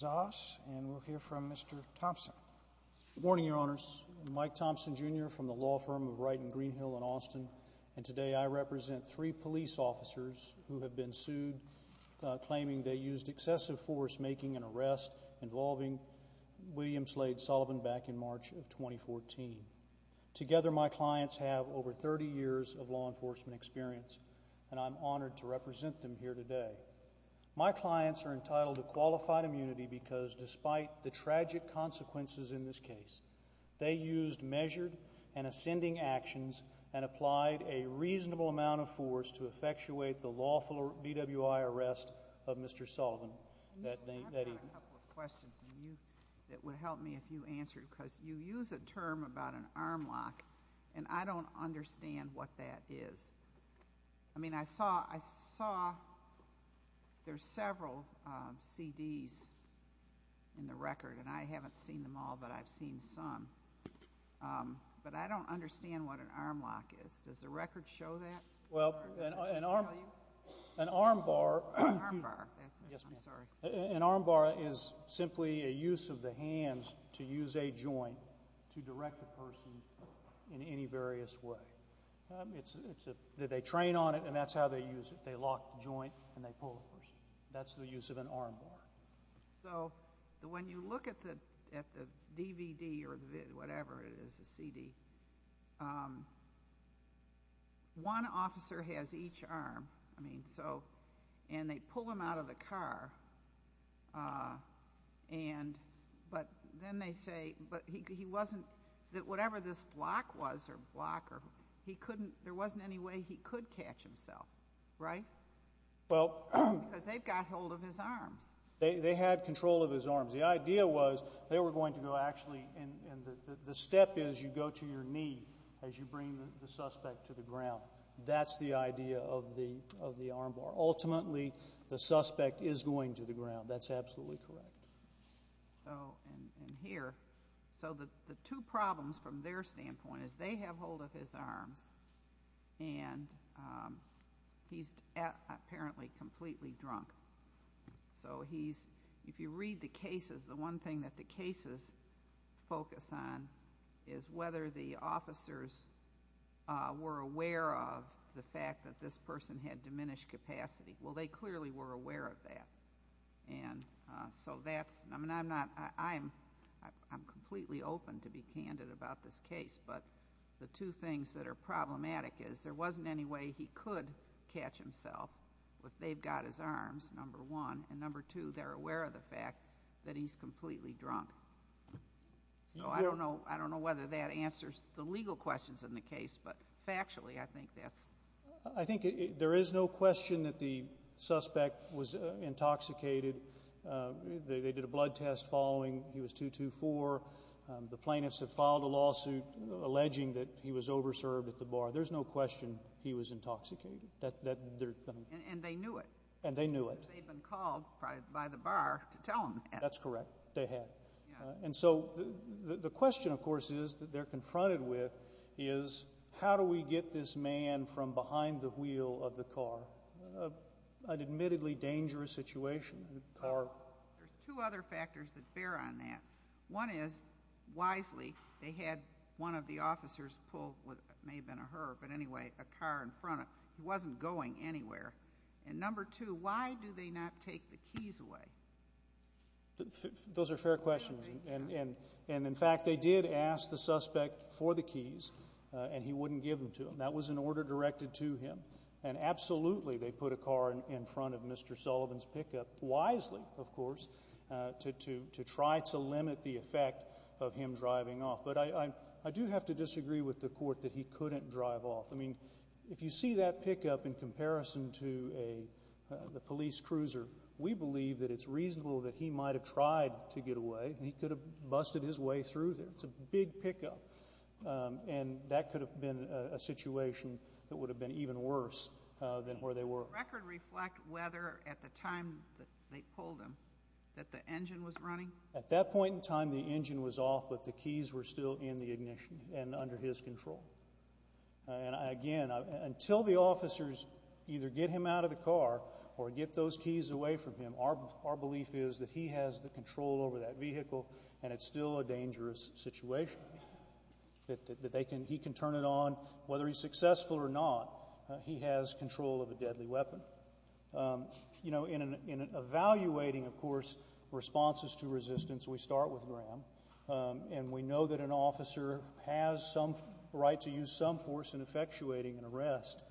Zoss and we'll hear from Mr. Thompson. Good morning your honors. Mike Thompson Jr. from the law firm of Wright and Greenhill in Austin and today I represent three police officers who have been sued claiming they used excessive force making an arrest involving William Slade Sullivan back in March of 2014. Together my clients have over 30 years of law enforcement experience and I'm pleased to represent them here today. My clients are entitled to qualified immunity because despite the tragic consequences in this case they used measured and ascending actions and applied a reasonable amount of force to effectuate the lawful BWI arrest of Mr. Sullivan that evening. I've got a couple of questions that would help me if you answer because you use a term about an arm lock and I don't understand what that is. I mean I saw I saw there's several CDs in the record and I haven't seen them all but I've seen some but I don't understand what an arm lock is. Does the record show that? Well an arm an arm bar an arm bar is simply a use of the hands to use a joint to direct the in any various way. It's it's a they train on it and that's how they use it they lock the joint and they pull the person. That's the use of an arm bar. So when you look at the at the DVD or whatever it is a CD one officer has each arm I mean so and they pull him out of the car and but then they say but he wasn't that whatever this lock was or block or he couldn't there wasn't any way he could catch himself right? Well because they've got hold of his arms. They they had control of his arms. The idea was they were going to go actually and the step is you go to your knee as you bring the suspect to the ground. That's the idea of the of the arm bar. Ultimately the suspect is going to the ground. That's absolutely correct. So and here so that the two problems from their standpoint is they have hold of his arms and he's apparently completely drunk. So he's if you read the cases the one thing that the cases focus on is whether the officers were aware of the fact that this person had diminished capacity. Well they clearly were aware of that and so that's I mean I'm not I'm I'm completely open to be candid about this case but the two things that are problematic is there wasn't any way he could catch himself if they've got his arms number one and number two they're aware of the fact that he's completely drunk. So I don't know I don't know whether that answers the legal questions in the case but factually I think that's I think there is no question that the suspect was intoxicated. They did a blood test following he was 224. The plaintiffs have filed a lawsuit alleging that he was over served at the bar. There's no question he was intoxicated that there and they knew it and they knew it. They've been called by the bar to tell him that's correct. They had. And so the question of course is that they're confronted with is how do we get this man from behind the wheel of the car. An admittedly dangerous situation. There's two other factors that bear on that. One is wisely. He had one of the officers pull what may have been a her but anyway a car in front of he wasn't going anywhere. And number two why do they not take the keys away. Those are fair questions. And in fact they did ask the suspect for the keys and he wouldn't give them to him. That was an order directed to him. And absolutely they put a car in front of Mr. Sullivan's pickup wisely of course to to to try to limit the effect of him driving off. But I I do have to disagree with the court that he couldn't drive off. I mean if you see that pickup in comparison to a police cruiser we believe that it's reasonable that he might have tried to get away. He could have busted his way through there. It's a big pickup and that could have been a situation that would have been even worse than where they were. The record reflect whether at the time that they pulled him that the engine was running at that point in time the engine was off but the keys were still in the ignition and under his control. And again until the officers either get him out of the car or get those keys away from him. Our our belief is that he has the control over that vehicle and it's still a dangerous situation that they can. He can turn it on whether he's successful or not. He has control of a deadly weapon. You know in an evaluating of course responses to resistance we start with Graham and we know that an officer has some right to use some force in effectuating an arrest.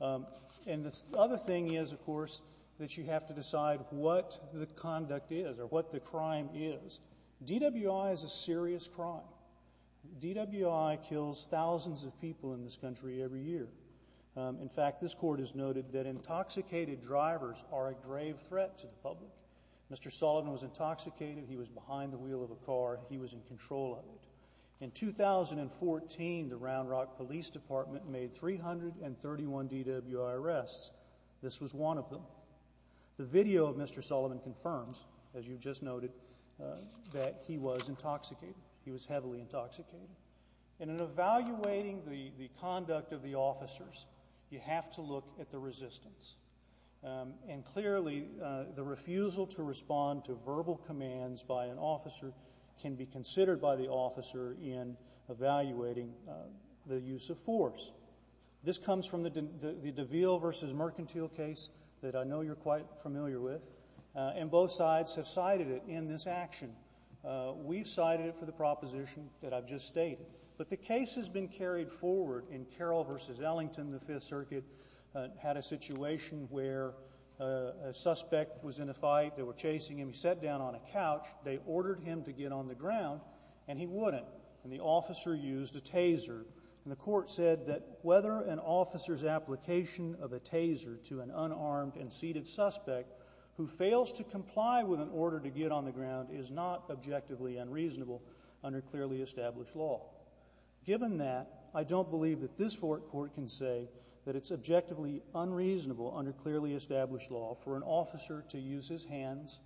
And the other thing is of course that you have to decide what the conduct is or what the crime is. DWI is a serious crime. DWI kills thousands of people in this country every year. In fact this court has noted that intoxicated drivers are a grave threat to the public. Mr. Sullivan was intoxicated. He was behind the wheel of a car. He was in control of it. In 2014 the Round Rock Police Department made three hundred and thirty one DWI arrests. This was one of them. The video of Mr. Sullivan confirms as you just noted that he was intoxicated. He was heavily intoxicated. And in evaluating the conduct of the officers you have to look at the resistance. And clearly the refusal to respond to verbal commands by an officer can be considered by the officer in evaluating the use of force. This comes from the DeVille versus Mercantile case that I know you're quite familiar with. And both sides have cited it in this action. We've cited it for the proposition that I've just stated. But the case has been carried forward in Carroll versus Ellington. The Fifth Circuit had a situation where a suspect was in a fight. They were chasing him. He sat down on a couch. They ordered him to get on the ground. And he wouldn't. And the officer used a taser. And the court said that whether an officer's application of a taser to an unarmed and seated suspect who fails to comply with an order to get on the ground is not a violation of the law. It's not objectively unreasonable under clearly established law. Given that, I don't believe that this court can say that it's objectively unreasonable under clearly established law for an officer to use his hands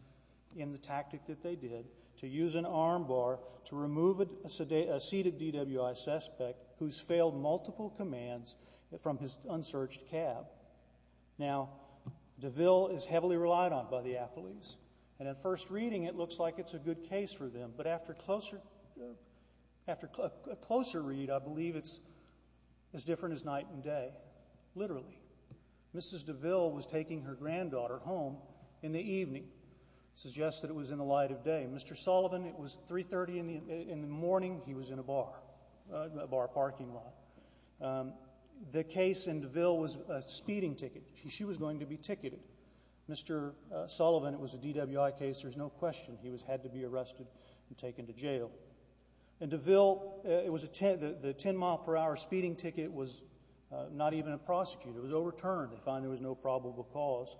in the tactic that they did to use an arm bar to remove a seated DWI suspect who's failed multiple commands from his unsearched cab. Now, DeVille is heavily relied on by the athletes. And at first reading, it looks like it's a good case for them. But after a closer read, I believe it's as different as night and day, literally. Mrs. DeVille was taking her granddaughter home in the evening. Suggests that it was in the light of day. Mr. Sullivan, it was 3.30 in the morning. He was in a bar, a bar parking lot. The case in DeVille was a speeding ticket. She was going to be ticketed. Mr. Sullivan, it was a DWI case. There's no question he had to be arrested and taken to jail. In DeVille, it was a 10-mile-per-hour speeding ticket was not even a prosecutor. It was overturned. They found there was no probable cause.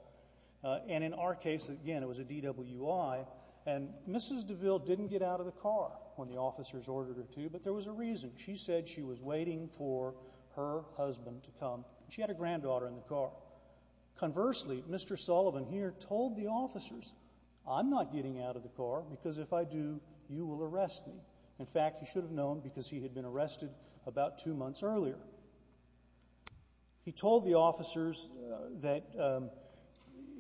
And in our case, again, it was a DWI, and Mrs. DeVille didn't get out of the car when the officers ordered her to, but there was a reason. She said she was waiting for her husband to come. She had her granddaughter in the car. Conversely, Mr. Sullivan here told the officers, I'm not getting out of the car, because if I do, you will arrest me. In fact, he should have known because he had been arrested about two months earlier. He told the officers that,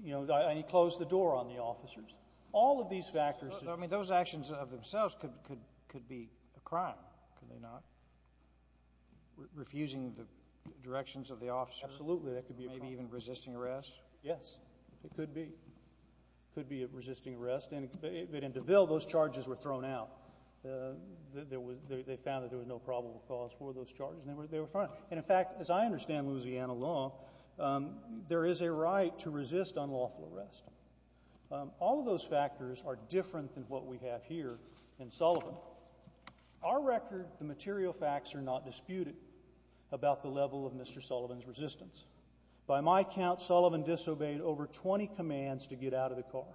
you know, he closed the door on the officers. All of these factors that I mean, those actions of themselves could be a crime, could they not? Refusing the directions of the officers. Absolutely, that could be a crime. Maybe even resisting arrest. Yes, it could be. It could be a resisting arrest, but in DeVille, those charges were thrown out. They found that there was no probable cause for those charges, and they were fined. And in fact, as I understand Louisiana law, there is a right to resist unlawful arrest. All of those factors are different than what we have here in Sullivan. Our record, the material facts are not disputed about the level of Mr. Sullivan's resistance. By my count, Sullivan disobeyed over 20 commands to get out of the car,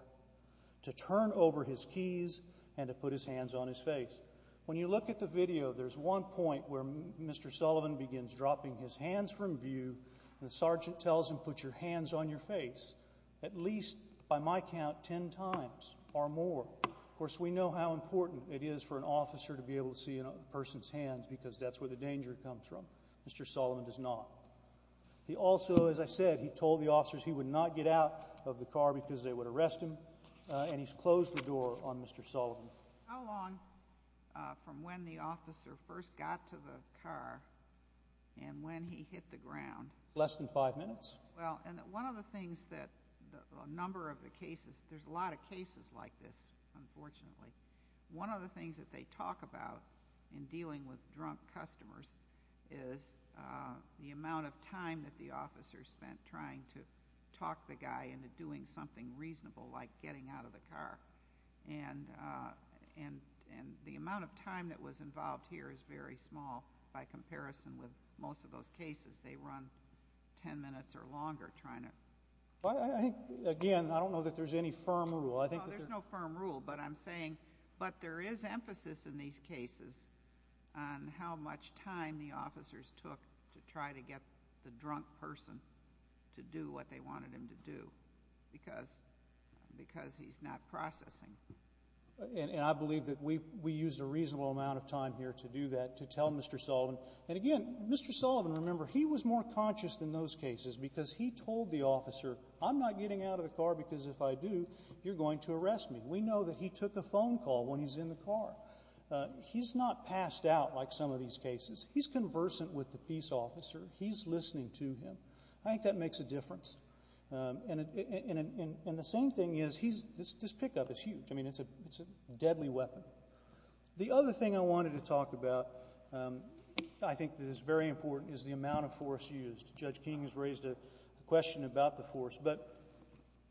to turn over his keys, and to put his hands on his face. When you look at the video, there's one point where Mr. Sullivan begins dropping his hands from view, and the sergeant tells him, put your hands on your face. At least, by my count, 10 times or more. Of course, we know how important it is for an officer to be able to see a person's hands because that's where the danger comes from. Mr. Sullivan does not. He also, as I said, he told the officers he would not get out of the car because they would arrest him, and he's closed the door on Mr. Sullivan. How long from when the officer first got to the car and when he hit the ground? Less than five minutes. Well, and one of the things that a number of the cases, there's a lot of cases like this, unfortunately. One of the things that they talk about in dealing with drunk customers is the amount of time that the officer spent trying to talk the guy into doing something reasonable like getting out of the car. And the amount of time that was involved here is very small by comparison with most of those cases. They run 10 minutes or longer trying to... Well, I think, again, I don't know that there's any firm rule. I think... And I believe that we used a reasonable amount of time here to do that, to tell Mr. Sullivan. And, again, Mr. Sullivan, remember, he was more conscious in those cases because he told the officer, I'm not getting out of the car because if I do, you're going to arrest me. We know that he took a phone call when he's in the car. He's not passed out like some of these cases. He's conversant with the peace officer. He's listening to him. I think that makes a difference. And the same thing is, this pickup is huge. I mean, it's a deadly weapon. The other thing I wanted to talk about, I think that is very important, is the amount of force used. Judge King has raised a question about the force. But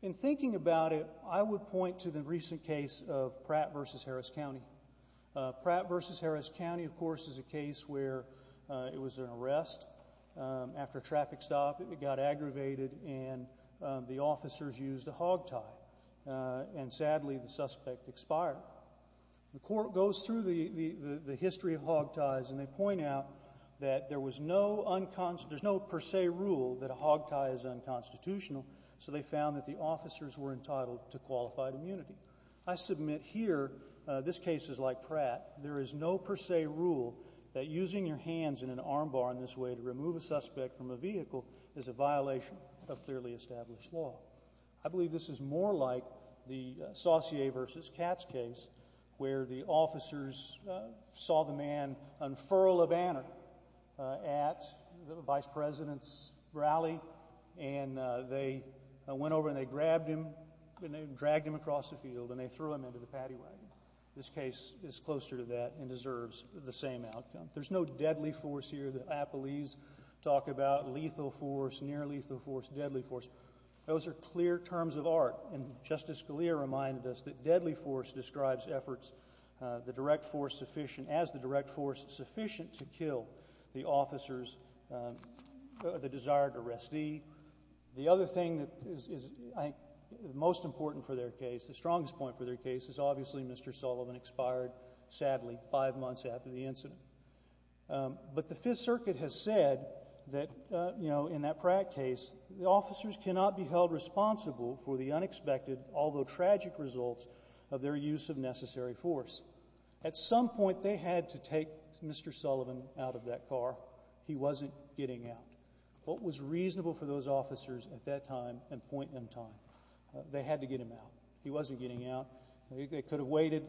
in thinking about it, I would point to the recent case of Pratt v. Harris County. Pratt v. Harris County, of course, is a case where it was an arrest after a traffic stop. It got aggravated, and the officers used a hog tie. And, sadly, the suspect expired. The Court goes through the history of hog ties, and they point out that there was no unconstitutional — there's no per se rule that a hog tie is unconstitutional, so they found that the officers were entitled to qualified immunity. I submit here, this case is like Pratt, there is no per se rule that using your hands in an armbar in this way to remove a suspect from a vehicle is a violation of clearly established law. I believe this is more like the Saucier v. Katz case, where the officers saw the man unfurl a banner at the vice president's rally, and they went over and they grabbed him, and they dragged him across the field, and they threw him into the patty wagon. This case is closer to that and deserves the same outcome. There's no deadly force here that appellees talk about, lethal force, near-lethal force, deadly force. Those are clear terms of art. And Justice Scalia reminded us that deadly force describes efforts, the direct force sufficient — as the direct force sufficient to kill the officers, the desired arrestee. The other thing that is, I think, most important for their case, the strongest point for their case, is obviously Mr. Sullivan expired, sadly, five months after the incident. But the Fifth Circuit has said that, you know, in that Pratt case, the officers cannot be held responsible for the unexpected, although tragic, results of their use of necessary force. At some point, they had to take Mr. Sullivan out of that car. He wasn't getting out. What was reasonable for those officers at that time and point in time, they had to get him out. He wasn't getting out. They could have waited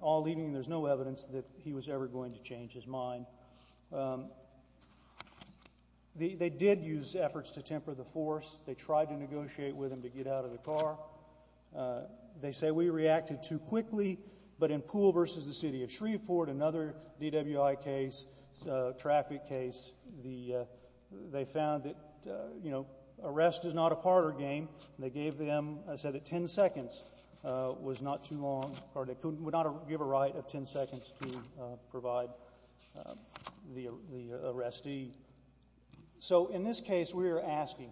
all evening. There's no evidence that he was ever going to change his mind. They did use efforts to temper the force. They tried to negotiate with him to get out of the car. They say, we reacted too quickly. But in Poole v. The City of Shreveport, another DWI case, traffic case, they found that, you know, arrest is not a part or game. They gave them, said that 10 seconds was not too long, or they would not give a right of 10 seconds to provide the arrestee. So, in this case, we are asking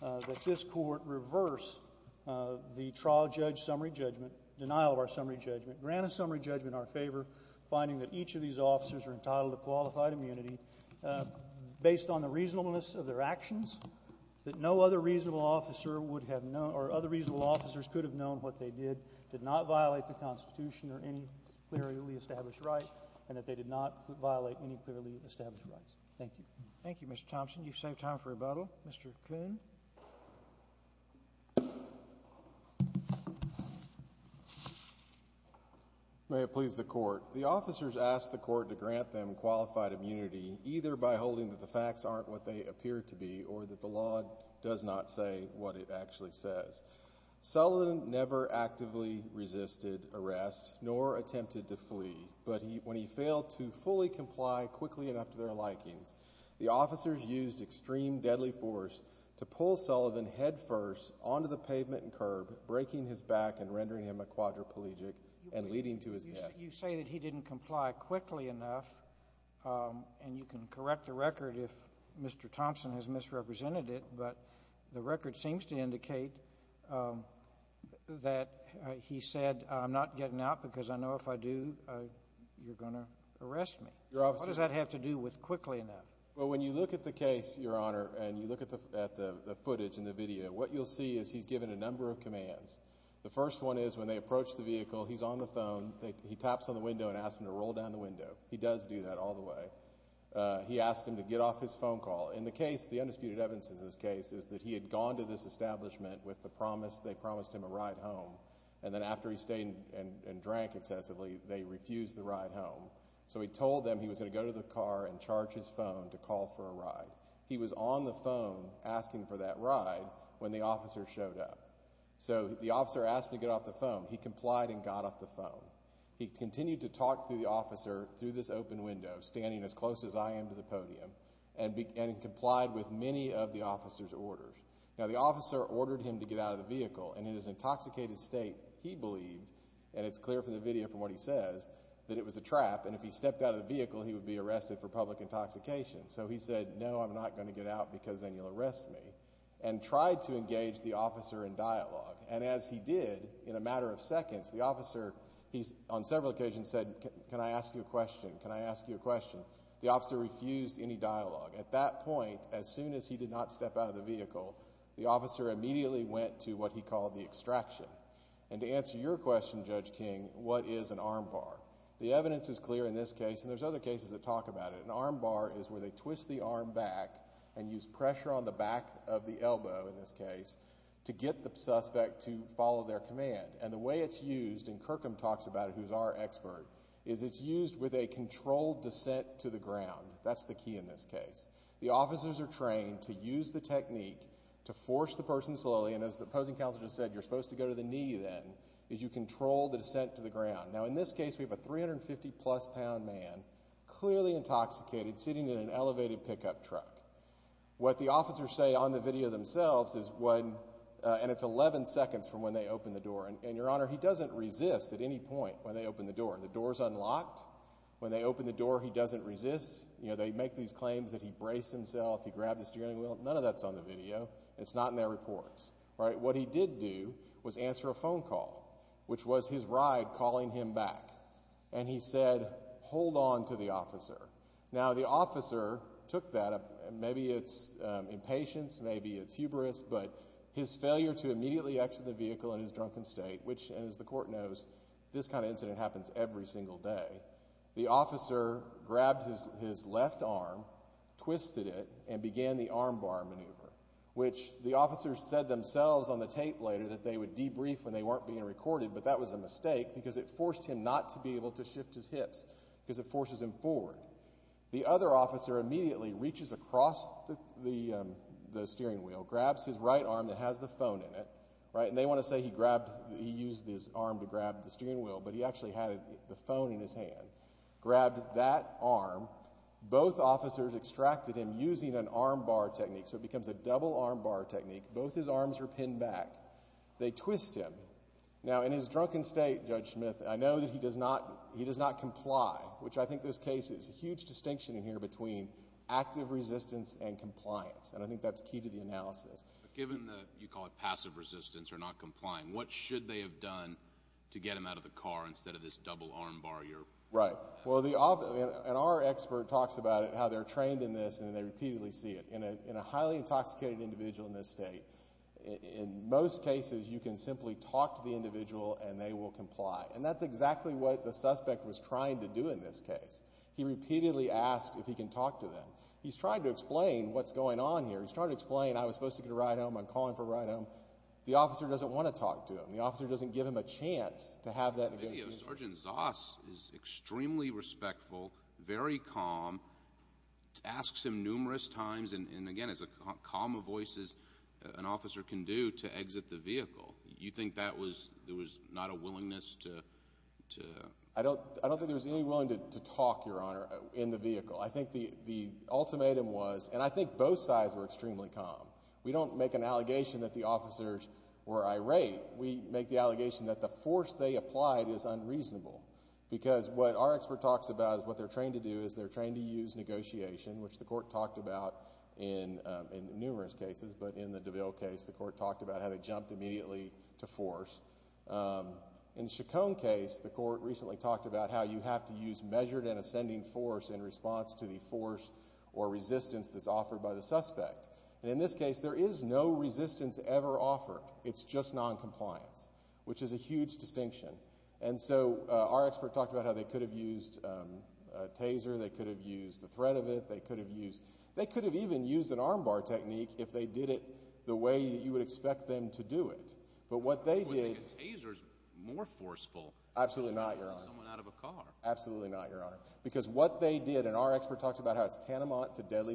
that this Court reverse the trial judge summary judgment, denial of our summary judgment, grant a summary judgment in our favor, finding that each of these officers are entitled to qualified immunity based on the reasonableness of their actions, that no other reasonable officer would have known, or other reasonable officers could have known what they did, did not violate the Constitution or any clearly established right, and that they did not violate any clearly established rights. Thank you. Thank you, Mr. Thompson. You've saved time for rebuttal. Mr. Coon. May it please the Court. The officers asked the Court to grant them qualified immunity either by holding that the facts aren't what they appear to be or that the law does not say what it actually says. Sullivan never actively resisted arrest nor attempted to flee, but when he failed to fully comply quickly enough to their likings, the officers used extreme deadly force to pull Sullivan headfirst onto the pavement and curb, breaking his back and rendering him a quadriplegic and leading to his death. You say that he didn't comply quickly enough, and you can correct the record if Mr. Thompson has misrepresented it, but the record seems to indicate that he said, I'm not getting out because I know if I do, you're going to arrest me. What does that have to do with quickly enough? Well, when you look at the case, Your Honor, and you look at the footage and the video, what you'll see is he's given a number of commands. The first one is when they approach the vehicle, he's on the phone. He taps on the window and asks him to roll down the window. He does do that all the way. He asks him to get off his phone call. Well, in the case, the undisputed evidence in this case is that he had gone to this establishment with the promise, they promised him a ride home, and then after he stayed and drank excessively, they refused the ride home. So he told them he was going to go to the car and charge his phone to call for a ride. He was on the phone asking for that ride when the officer showed up. So the officer asked him to get off the phone. He complied and got off the phone. He continued to talk to the officer through this open window, standing as close as I am to the podium, and complied with many of the officer's orders. Now, the officer ordered him to get out of the vehicle, and in his intoxicated state, he believed, and it's clear from the video from what he says, that it was a trap, and if he stepped out of the vehicle, he would be arrested for public intoxication. So he said, no, I'm not going to get out because then you'll arrest me, and tried to engage the officer in dialogue. And as he did, in a matter of seconds, the officer, on several occasions, said, can I ask you a question? Can I ask you a question? The officer refused any dialogue. At that point, as soon as he did not step out of the vehicle, the officer immediately went to what he called the extraction. And to answer your question, Judge King, what is an arm bar? The evidence is clear in this case, and there's other cases that talk about it. An arm bar is where they twist the arm back and use pressure on the back of the elbow, in this case, to get the suspect to follow their command. And the way it's used, and Kirkham talks about it, who's our expert, is it's used with a controlled descent to the ground. That's the key in this case. The officers are trained to use the technique to force the person slowly, and as the opposing counsel just said, you're supposed to go to the knee then, as you control the descent to the ground. Now, in this case, we have a 350-plus pound man, clearly intoxicated, sitting in an elevated pickup truck. What the officers say on the video themselves is when, and it's 11 seconds from when they open the door, and your honor, he doesn't resist at any point when they open the door. The door's unlocked. When they open the door, he doesn't resist. They make these claims that he braced himself, he grabbed the steering wheel. None of that's on the video. It's not in their reports. What he did do was answer a phone call, which was his ride calling him back. And he said, hold on to the officer. Now, the officer took that, maybe it's impatience, maybe it's hubris, but his failure to immediately exit the vehicle in his drunken state, which, as the court knows, this kind of incident happens every single day. The officer grabbed his left arm, twisted it, and began the arm bar maneuver, which the officers said themselves on the tape later that they would debrief when they weren't being recorded, but that was a mistake because it forced him not to be able to shift his hips because it forces him forward. The other officer immediately reaches across the steering wheel, grabs his right arm that has the phone in it, right, and they want to say he grabbed, he used his arm to grab the steering wheel, but he actually had the phone in his hand. Grabbed that arm. Both officers extracted him using an arm bar technique, so it becomes a double arm bar technique. Both his arms are pinned back. They twist him. Now, in his drunken state, Judge Smith, I know that he does not comply, which I think this case is a huge distinction in here between active resistance and compliance, and I think that's key to the analysis. Given that you call it passive resistance or not complying, what should they have done to get him out of the car instead of this double arm bar? Right. And our expert talks about how they're trained in this and they repeatedly see it. In a highly intoxicated individual in this state, in most cases you can simply talk to the individual and they will comply, and that's exactly what the suspect was trying to do in this case. He repeatedly asked if he can talk to them. He's trying to explain what's going on here. He's trying to explain I was supposed to get a ride home. I'm calling for a ride home. The officer doesn't want to talk to him. The officer doesn't give him a chance to have that negotiation. In the video, Sergeant Zoss is extremely respectful, very calm, asks him numerous times, and again, as calm a voice as an officer can do, to exit the vehicle. You think there was not a willingness to? I don't think there was any willingness to talk, Your Honor, in the vehicle. I think the ultimatum was, and I think both sides were extremely calm. We don't make an allegation that the officers were irate. We make the allegation that the force they applied is unreasonable. Because what our expert talks about is what they're trained to do is they're trained to use negotiation, which the court talked about in numerous cases, but in the DeVille case, the court talked about how they jumped immediately to force. In the Chacon case, the court recently talked about how you have to use measured and ascending force in response to the force or resistance that's offered by the suspect. And in this case, there is no resistance ever offered. It's just noncompliance, which is a huge distinction. And so our expert talked about how they could have used a taser, they could have used the threat of it, they could have even used an armbar technique if they did it the way you would expect them to do it. A taser is more forceful than pulling someone out of a car. And the medical examiner in this case, the city's own medical examiner, said that he died from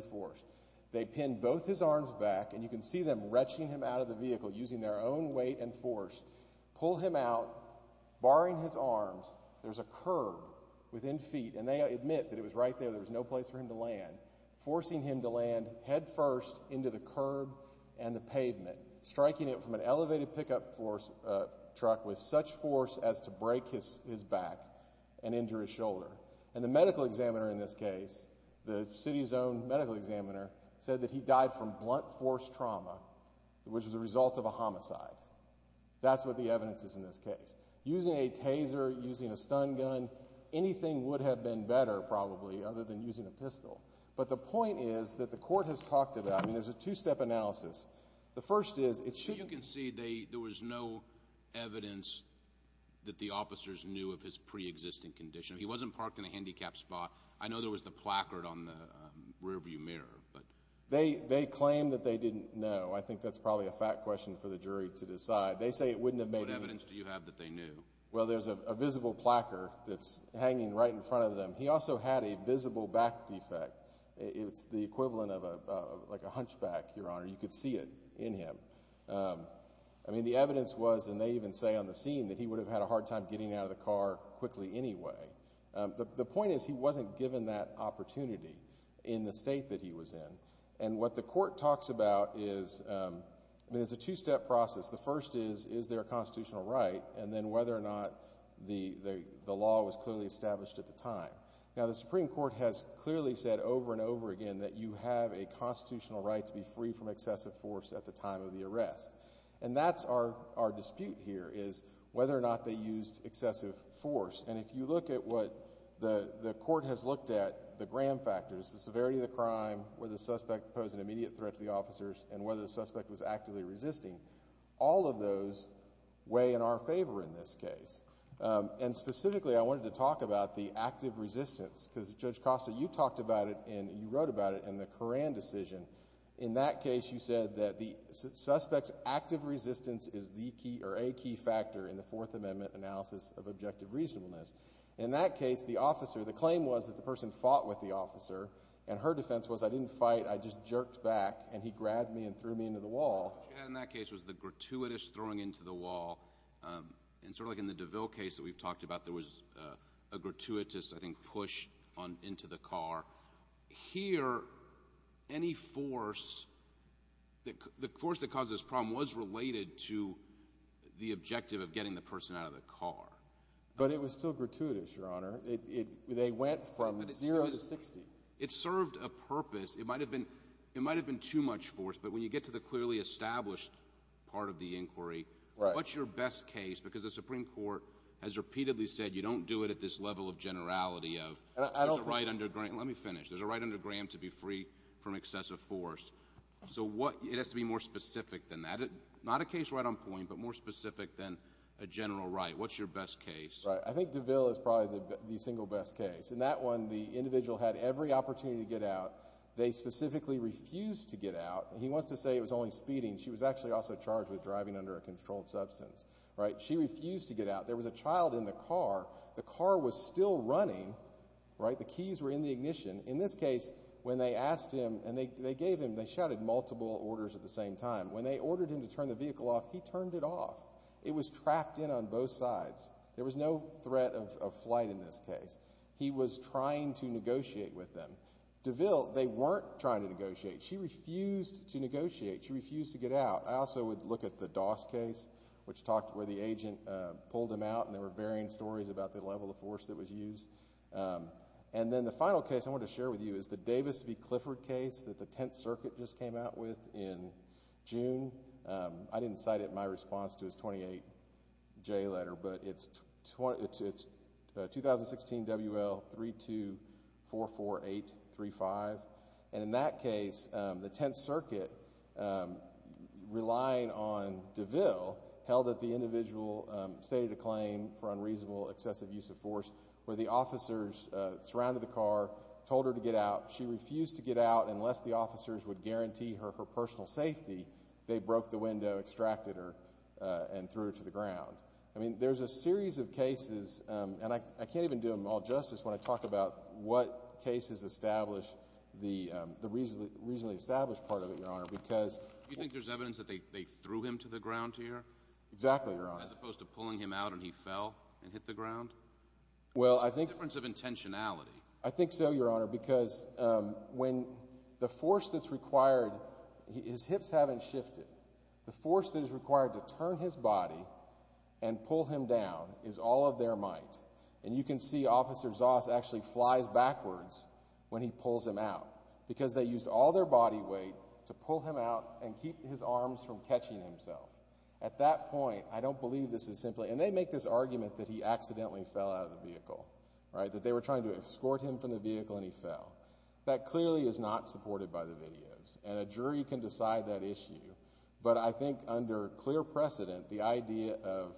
blunt force trauma, which was a result of a homicide. That's what the evidence is in this case. Using a taser, using a stun gun, anything would have been better, probably, other than using a pistol. But the point is that the court has talked about, I mean, there's a two-step analysis. The first is, it shouldn't... So you can see there was no evidence that the officers knew of his preexisting condition. He wasn't parked in a handicapped spot. I know there was the placard on the rearview mirror, but... They claim that they didn't know. I think that's probably a fact question for the jury to decide. They say it wouldn't have made... What evidence do you have that they knew? Well, there's a visible placard that's hanging right in front of them. He also had a visible back defect. It's the equivalent of a hunchback, Your Honor. You could see it in him. I mean, the evidence was, and they even say on the scene, that he would have had a hard time getting out of the car quickly anyway. The point is he wasn't given that opportunity in the state that he was in. And what the court talks about is, I mean, it's a two-step process. The first is, is there a constitutional right? And then whether or not the law was clearly established at the time. Now, the Supreme Court has clearly said over and over again that you have a constitutional right to be free from excessive force at the time of the arrest. And that's our dispute here, is whether or not they used excessive force. And if you look at what the court has looked at, the Graham factors, the severity of the crime, whether the suspect posed an immediate threat to the officers, and whether the suspect was actively resisting, all of those weigh in our favor in this case. And specifically, I wanted to talk about the active resistance, because Judge Costa, you talked about it and you wrote about it in the Coran decision. In that case, you said that the suspect's active resistance is the key or a key factor in the Fourth Amendment analysis of objective reasonableness. In that case, the officer, the claim was that the person fought with the officer, and her defense was, I didn't fight, I just jerked back, and he grabbed me and threw me into the wall. What you had in that case was the gratuitous throwing into the wall. And sort of like in the DeVille case that we've talked about, there was a gratuitous, I think, push into the car. Here, any force, the force that caused this problem was related to the objective of getting the person out of the car. But it was still gratuitous, Your Honor. They went from zero to 60. It served a purpose. It might have been too much force, but when you get to the clearly established part of the inquiry, what's your best case? Because the Supreme Court has repeatedly said you don't do it at this level of generality of there's a right under Graham. Let me finish. There's a right under Graham to be free from excessive force. So it has to be more specific than that. Not a case right on point, but more specific than a general right. What's your best case? Right. I think DeVille is probably the single best case. In that one, the individual had every opportunity to get out. They specifically refused to get out. He wants to say it was only speeding. She was actually also charged with driving under a controlled substance. She refused to get out. There was a child in the car. The car was still running. The keys were in the ignition. In this case, when they asked him and they gave him, they shouted multiple orders at the same time. When they ordered him to turn the vehicle off, he turned it off. It was trapped in on both sides. There was no threat of flight in this case. He was trying to negotiate with them. DeVille, they weren't trying to negotiate. She refused to negotiate. She refused to get out. I also would look at the Doss case, which talked where the agent pulled him out and there were varying stories about the level of force that was used. And then the final case I wanted to share with you is the Davis v. Clifford case that the Tenth Circuit just came out with in June. I didn't cite it in my response to his 28-J letter, but it's 2016 WL3244835. And in that case, the Tenth Circuit, relying on DeVille, held that the individual stated a claim for unreasonable excessive use of force where the officers surrounded the car, told her to get out. She refused to get out unless the officers would guarantee her her personal safety. They broke the window, extracted her, and threw her to the ground. I mean, there's a series of cases, and I can't even do them all justice when I talk about what cases establish the reasonably established part of it, Your Honor, because Do you think there's evidence that they threw him to the ground here? Exactly, Your Honor. As opposed to pulling him out and he fell and hit the ground? Well, I think There's a difference of intentionality. I think so, Your Honor, because when the force that's required His hips haven't shifted. The force that is required to turn his body and pull him down is all of their might. And you can see Officer Zoss actually flies backwards when he pulls him out because they used all their body weight to pull him out and keep his arms from catching himself. At that point, I don't believe this is simply And they make this argument that he accidentally fell out of the vehicle, right, that they were trying to escort him from the vehicle and he fell. That clearly is not supported by the videos, and a jury can decide that issue. But I think under clear precedent, the idea of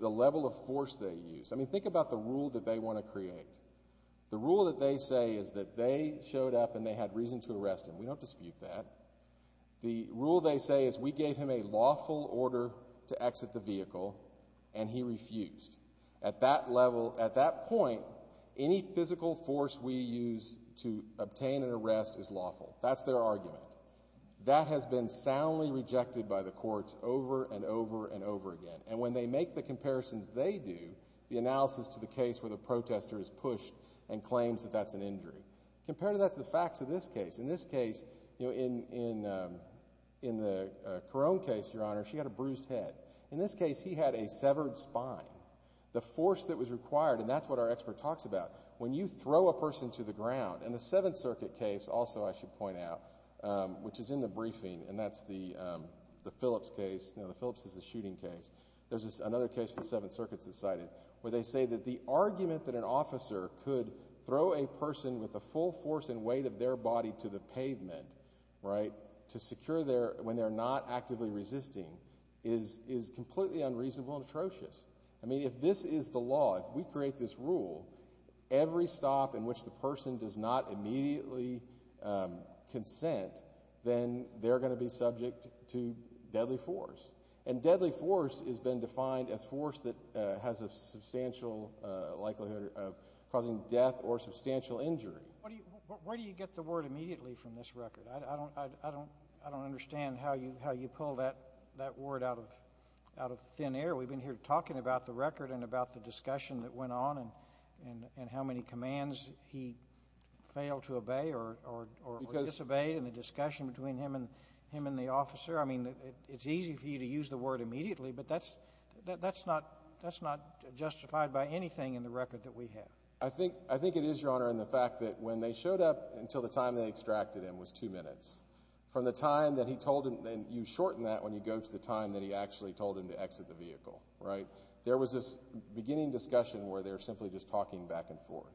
the level of force they used I mean, think about the rule that they want to create. The rule that they say is that they showed up and they had reason to arrest him. We don't dispute that. The rule they say is we gave him a lawful order to exit the vehicle, and he refused. At that level, at that point, any physical force we use to obtain an arrest is lawful. That's their argument. That has been soundly rejected by the courts over and over and over again. And when they make the comparisons they do, the analysis to the case where the protester is pushed and claims that that's an injury, compare that to the facts of this case. In this case, in the Carone case, Your Honor, she had a bruised head. In this case, he had a severed spine. The force that was required, and that's what our expert talks about, when you throw a person to the ground, and the Seventh Circuit case also, I should point out, which is in the briefing, and that's the Phillips case. You know, the Phillips is the shooting case. There's another case in the Seventh Circuit that's cited where they say that the argument that an officer could throw a person with the full force and weight of their body to the pavement, right, to secure when they're not actively resisting is completely unreasonable and atrocious. I mean, if this is the law, if we create this rule, every stop in which the person does not immediately consent, then they're going to be subject to deadly force. And deadly force has been defined as force that has a substantial likelihood of causing death or substantial injury. Where do you get the word immediately from this record? I don't understand how you pull that word out of thin air. We've been here talking about the record and about the discussion that went on and how many commands he failed to obey or disobeyed in the discussion between him and the officer. I mean, it's easy for you to use the word immediately, but that's not justified by anything in the record that we have. I think it is, Your Honor, in the fact that when they showed up, that until the time they extracted him was two minutes. From the time that he told him, and you shorten that when you go to the time that he actually told him to exit the vehicle, right, there was this beginning discussion where they were simply just talking back and forth.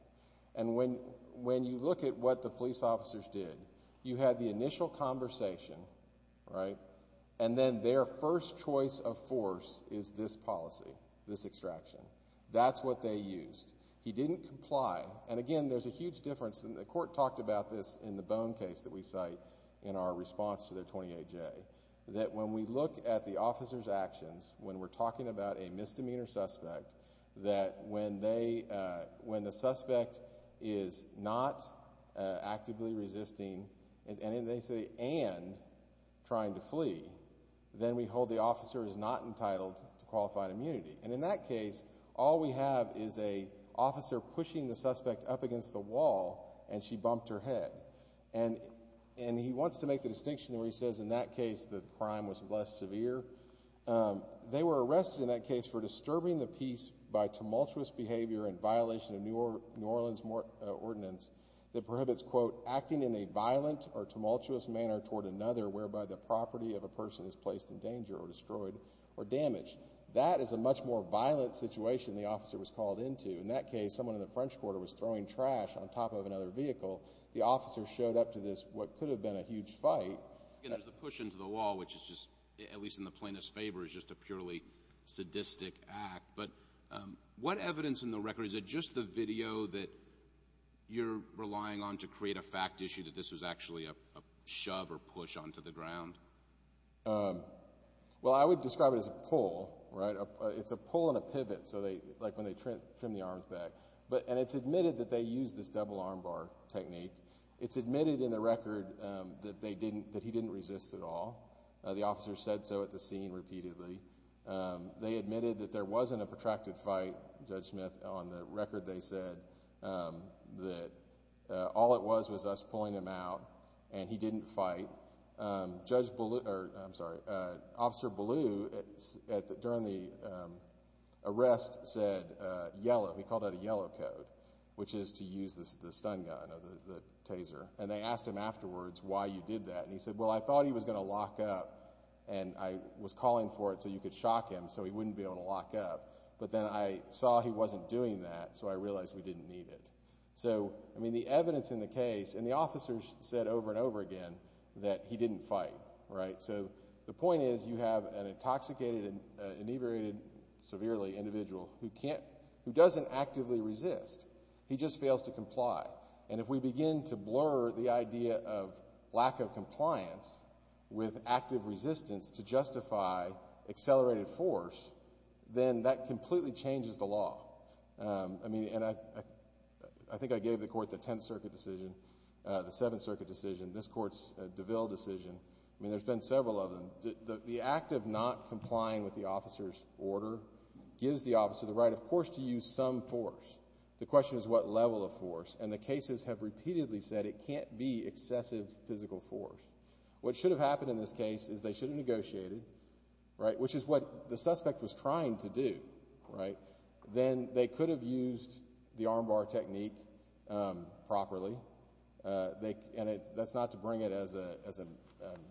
And when you look at what the police officers did, you had the initial conversation, right, and then their first choice of force is this policy, this extraction. That's what they used. He didn't comply. And, again, there's a huge difference. And the court talked about this in the Bone case that we cite in our response to their 28-J, that when we look at the officer's actions, when we're talking about a misdemeanor suspect, that when the suspect is not actively resisting, and they say and trying to flee, then we hold the officer as not entitled to qualified immunity. And in that case, all we have is an officer pushing the suspect up against the wall, and she bumped her head. And he wants to make the distinction where he says in that case the crime was less severe. They were arrested in that case for disturbing the peace by tumultuous behavior in violation of New Orleans ordinance that prohibits, quote, acting in a violent or tumultuous manner toward another whereby the property of a person is placed in danger or destroyed or damaged. That is a much more violent situation the officer was called into. In that case, someone in the French Quarter was throwing trash on top of another vehicle. The officer showed up to this what could have been a huge fight. Again, there's the push into the wall, which is just, at least in the plaintiff's favor, is just a purely sadistic act. But what evidence in the record, is it just the video that you're relying on to create a fact issue that this was actually a shove or push onto the ground? Well, I would describe it as a pull, right? It's a pull and a pivot, like when they trim the arms back. And it's admitted that they used this double arm bar technique. It's admitted in the record that he didn't resist at all. The officer said so at the scene repeatedly. They admitted that there wasn't a protracted fight, Judge Smith, on the record they said, that all it was was us pulling him out and he didn't fight. Officer Ballou, during the arrest, said yellow. He called out a yellow code, which is to use the stun gun, the taser. And they asked him afterwards why you did that. And he said, well, I thought he was going to lock up, and I was calling for it so you could shock him so he wouldn't be able to lock up. But then I saw he wasn't doing that, so I realized we didn't need it. So, I mean, the evidence in the case, and the officer said over and over again that he didn't fight, right? So the point is you have an intoxicated and inebriated, severely, individual who doesn't actively resist. He just fails to comply. And if we begin to blur the idea of lack of compliance with active resistance to justify accelerated force, then that completely changes the law. I mean, and I think I gave the Court the Tenth Circuit decision, the Seventh Circuit decision, this Court's DeVille decision. I mean, there's been several of them. The act of not complying with the officer's order gives the officer the right, of course, to use some force. The question is what level of force. And the cases have repeatedly said it can't be excessive physical force. What should have happened in this case is they should have negotiated, right, which is what the suspect was trying to do, right? Then they could have used the arm bar technique properly. And that's not to bring it as a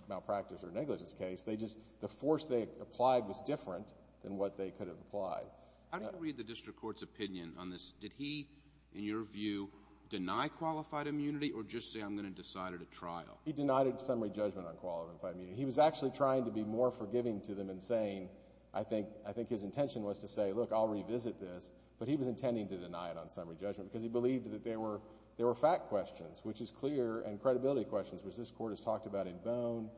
malpractice or negligence case. They just, the force they applied was different than what they could have applied. How do you read the district court's opinion on this? Did he, in your view, deny qualified immunity or just say I'm going to decide at a trial? He denied a summary judgment on qualified immunity. He was actually trying to be more forgiving to them in saying, I think his intention was to say, look, I'll revisit this, but he was intending to deny it on summary judgment because he believed that there were fact questions, which is clear, and credibility questions, which this court has talked about in Bone,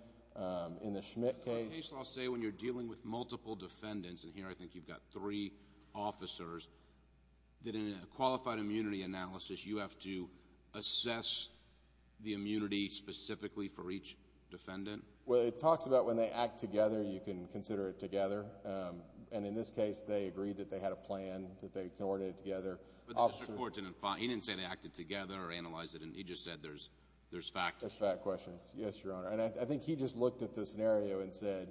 in the Schmidt case. The court case law say when you're dealing with multiple defendants, and here I think you've got three officers, that in a qualified immunity analysis you have to assess the immunity specifically for each defendant? Well, it talks about when they act together, you can consider it together. And in this case they agreed that they had a plan that they coordinated together. But the district court didn't say they acted together or analyzed it. He just said there's fact questions. There's fact questions. Yes, Your Honor. And I think he just looked at the scenario and said,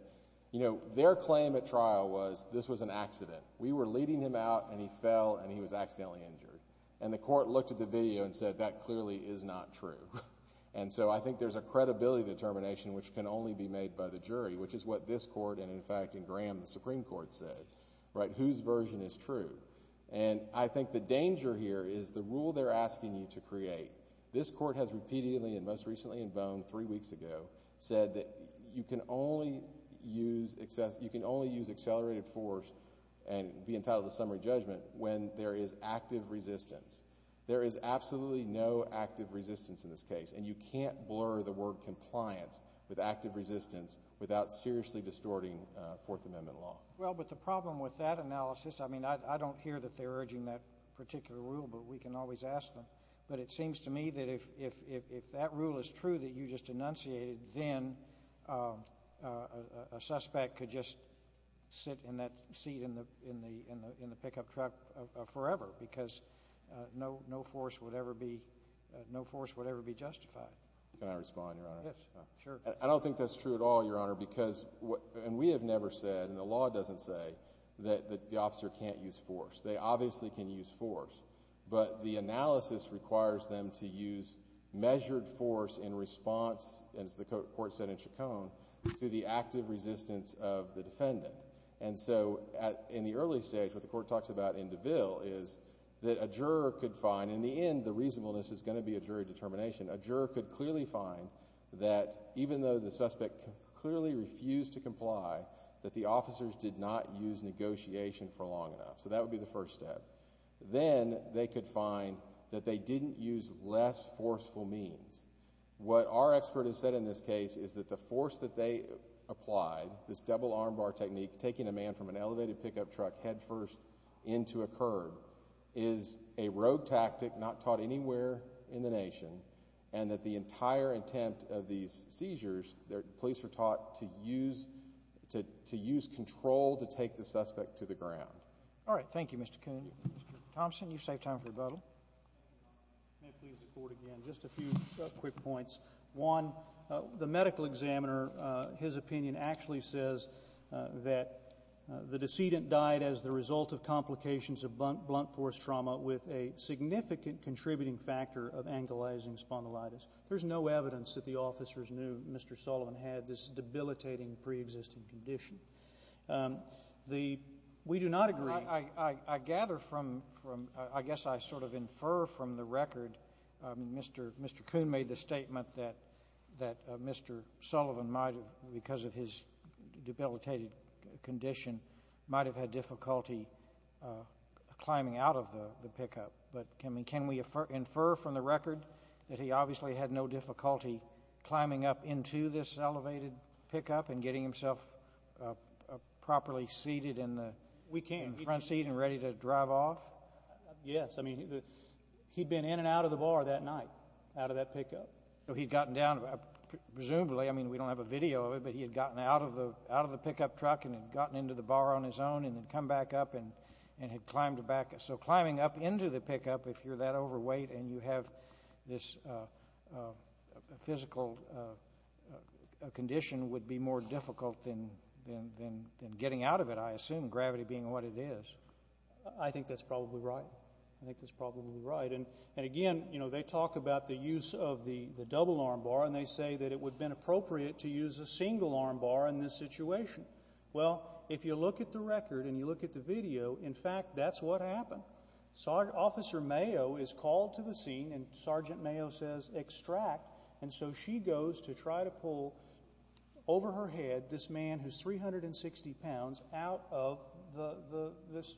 you know, their claim at trial was this was an accident. We were leading him out and he fell and he was accidentally injured. And the court looked at the video and said that clearly is not true. Which is what this court and, in fact, in Graham, the Supreme Court said, right, whose version is true. And I think the danger here is the rule they're asking you to create. This court has repeatedly and most recently in Bone, three weeks ago, said that you can only use accelerated force and be entitled to summary judgment when there is active resistance. There is absolutely no active resistance in this case, and you can't blur the word compliance with active resistance without seriously distorting Fourth Amendment law. Well, but the problem with that analysis, I mean, I don't hear that they're urging that particular rule, but we can always ask them. But it seems to me that if that rule is true that you just enunciated, then a suspect could just sit in that seat in the pickup truck forever because no force would ever be justified. Can I respond, Your Honor? Yes, sure. I don't think that's true at all, Your Honor, because we have never said, and the law doesn't say, that the officer can't use force. They obviously can use force. But the analysis requires them to use measured force in response, as the court said in Chacon, to the active resistance of the defendant. And so in the early stage, what the court talks about in DeVille is that a juror could find, in the end, the reasonableness is going to be a jury determination. A juror could clearly find that even though the suspect clearly refused to comply, that the officers did not use negotiation for long enough. So that would be the first step. Then they could find that they didn't use less forceful means. What our expert has said in this case is that the force that they applied, this double armbar technique, taking a man from an elevated pickup truck headfirst into a curb, is a rogue tactic not taught anywhere in the nation, and that the entire attempt of these seizures, police are taught to use control to take the suspect to the ground. All right. Thank you, Mr. Coon. Mr. Thompson, you've saved time for rebuttal. May I please report again? Just a few quick points. One, the medical examiner, his opinion actually says that the decedent died as the result of complications of blunt force trauma with a significant contributing factor of angulizing spondylitis. There's no evidence that the officers knew Mr. Sullivan had this debilitating preexisting condition. We do not agree. I gather from, I guess I sort of infer from the record, Mr. Coon made the statement that Mr. Sullivan might have, because of his debilitated condition, might have had difficulty climbing out of the pickup. But can we infer from the record that he obviously had no difficulty climbing up into this elevated pickup and getting himself properly seated in the front seat and ready to drive off? Yes. I mean, he'd been in and out of the bar that night, out of that pickup. So he'd gotten down, presumably, I mean, we don't have a video of it, but he had gotten out of the pickup truck and had gotten into the bar on his own and had come back up and had climbed back. So climbing up into the pickup, if you're that overweight and you have this physical condition, would be more difficult than getting out of it, I assume, gravity being what it is. I think that's probably right. I think that's probably right. And, again, you know, they talk about the use of the double arm bar, and they say that it would have been appropriate to use a single arm bar in this situation. Well, if you look at the record and you look at the video, in fact, that's what happened. Officer Mayo is called to the scene, and Sergeant Mayo says, extract, and so she goes to try to pull over her head this man who's 360 pounds out of this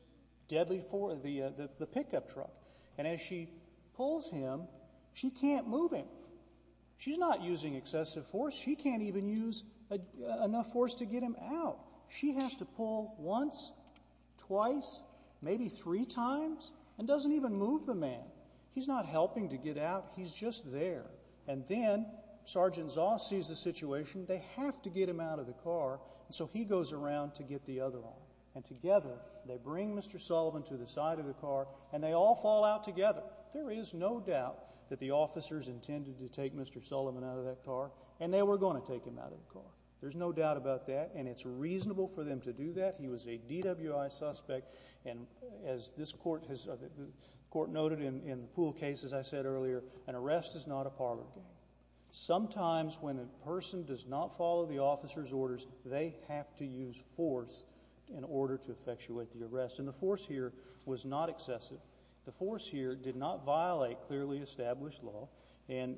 deadly force, the pickup truck. And as she pulls him, she can't move him. She's not using excessive force. She can't even use enough force to get him out. She has to pull once, twice, maybe three times, and doesn't even move the man. He's not helping to get out. He's just there. And then Sergeant Zoss sees the situation. They have to get him out of the car, and so he goes around to get the other arm. And together they bring Mr. Sullivan to the side of the car, and they all fall out together. There is no doubt that the officers intended to take Mr. Sullivan out of that car, and they were going to take him out of the car. There's no doubt about that, and it's reasonable for them to do that. He was a DWI suspect, and as this court has noted in the Poole case, as I said earlier, an arrest is not a parlor game. Sometimes when a person does not follow the officer's orders, they have to use force in order to effectuate the arrest, and the force here was not excessive. The force here did not violate clearly established law. And,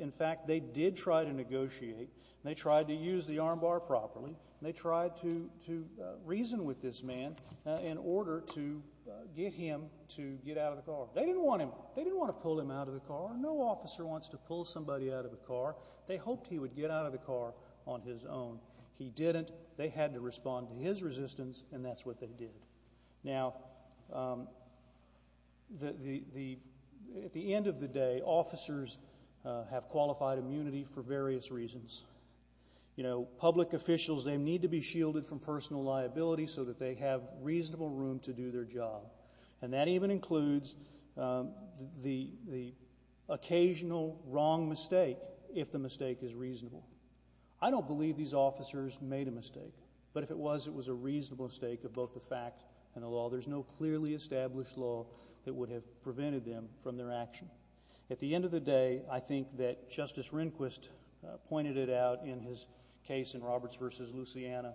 in fact, they did try to negotiate, and they tried to use the armbar properly, and they tried to reason with this man in order to get him to get out of the car. They didn't want him. They didn't want to pull him out of the car. No officer wants to pull somebody out of a car. They hoped he would get out of the car on his own. He didn't. They had to respond to his resistance, and that's what they did. Now, at the end of the day, officers have qualified immunity for various reasons. You know, public officials, they need to be shielded from personal liability so that they have reasonable room to do their job, and that even includes the occasional wrong mistake if the mistake is reasonable. But if it was, it was a reasonable mistake of both the fact and the law. There's no clearly established law that would have prevented them from their action. At the end of the day, I think that Justice Rehnquist pointed it out in his case in Roberts v. Luciana,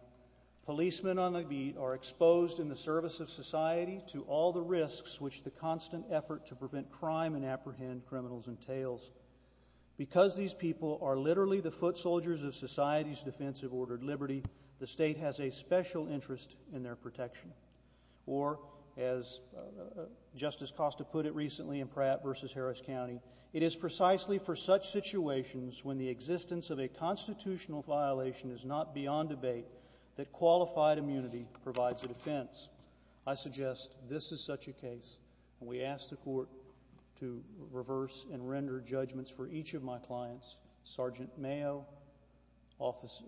policemen on the beat are exposed in the service of society to all the risks which the constant effort to prevent crime and apprehend criminals entails. Because these people are literally the foot soldiers of society's defense of ordered liberty, the state has a special interest in their protection. Or, as Justice Costa put it recently in Pratt v. Harris County, it is precisely for such situations when the existence of a constitutional violation is not beyond debate that qualified immunity provides a defense. I suggest this is such a case, and we ask the Court to reverse and render judgments for each of my clients, Sergeant Zoss,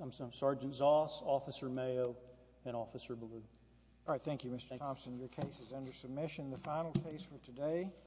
Officer Mayo, and Officer Ballew. All right. Thank you, Mr. Thompson. Your case is under submission. The final case for today.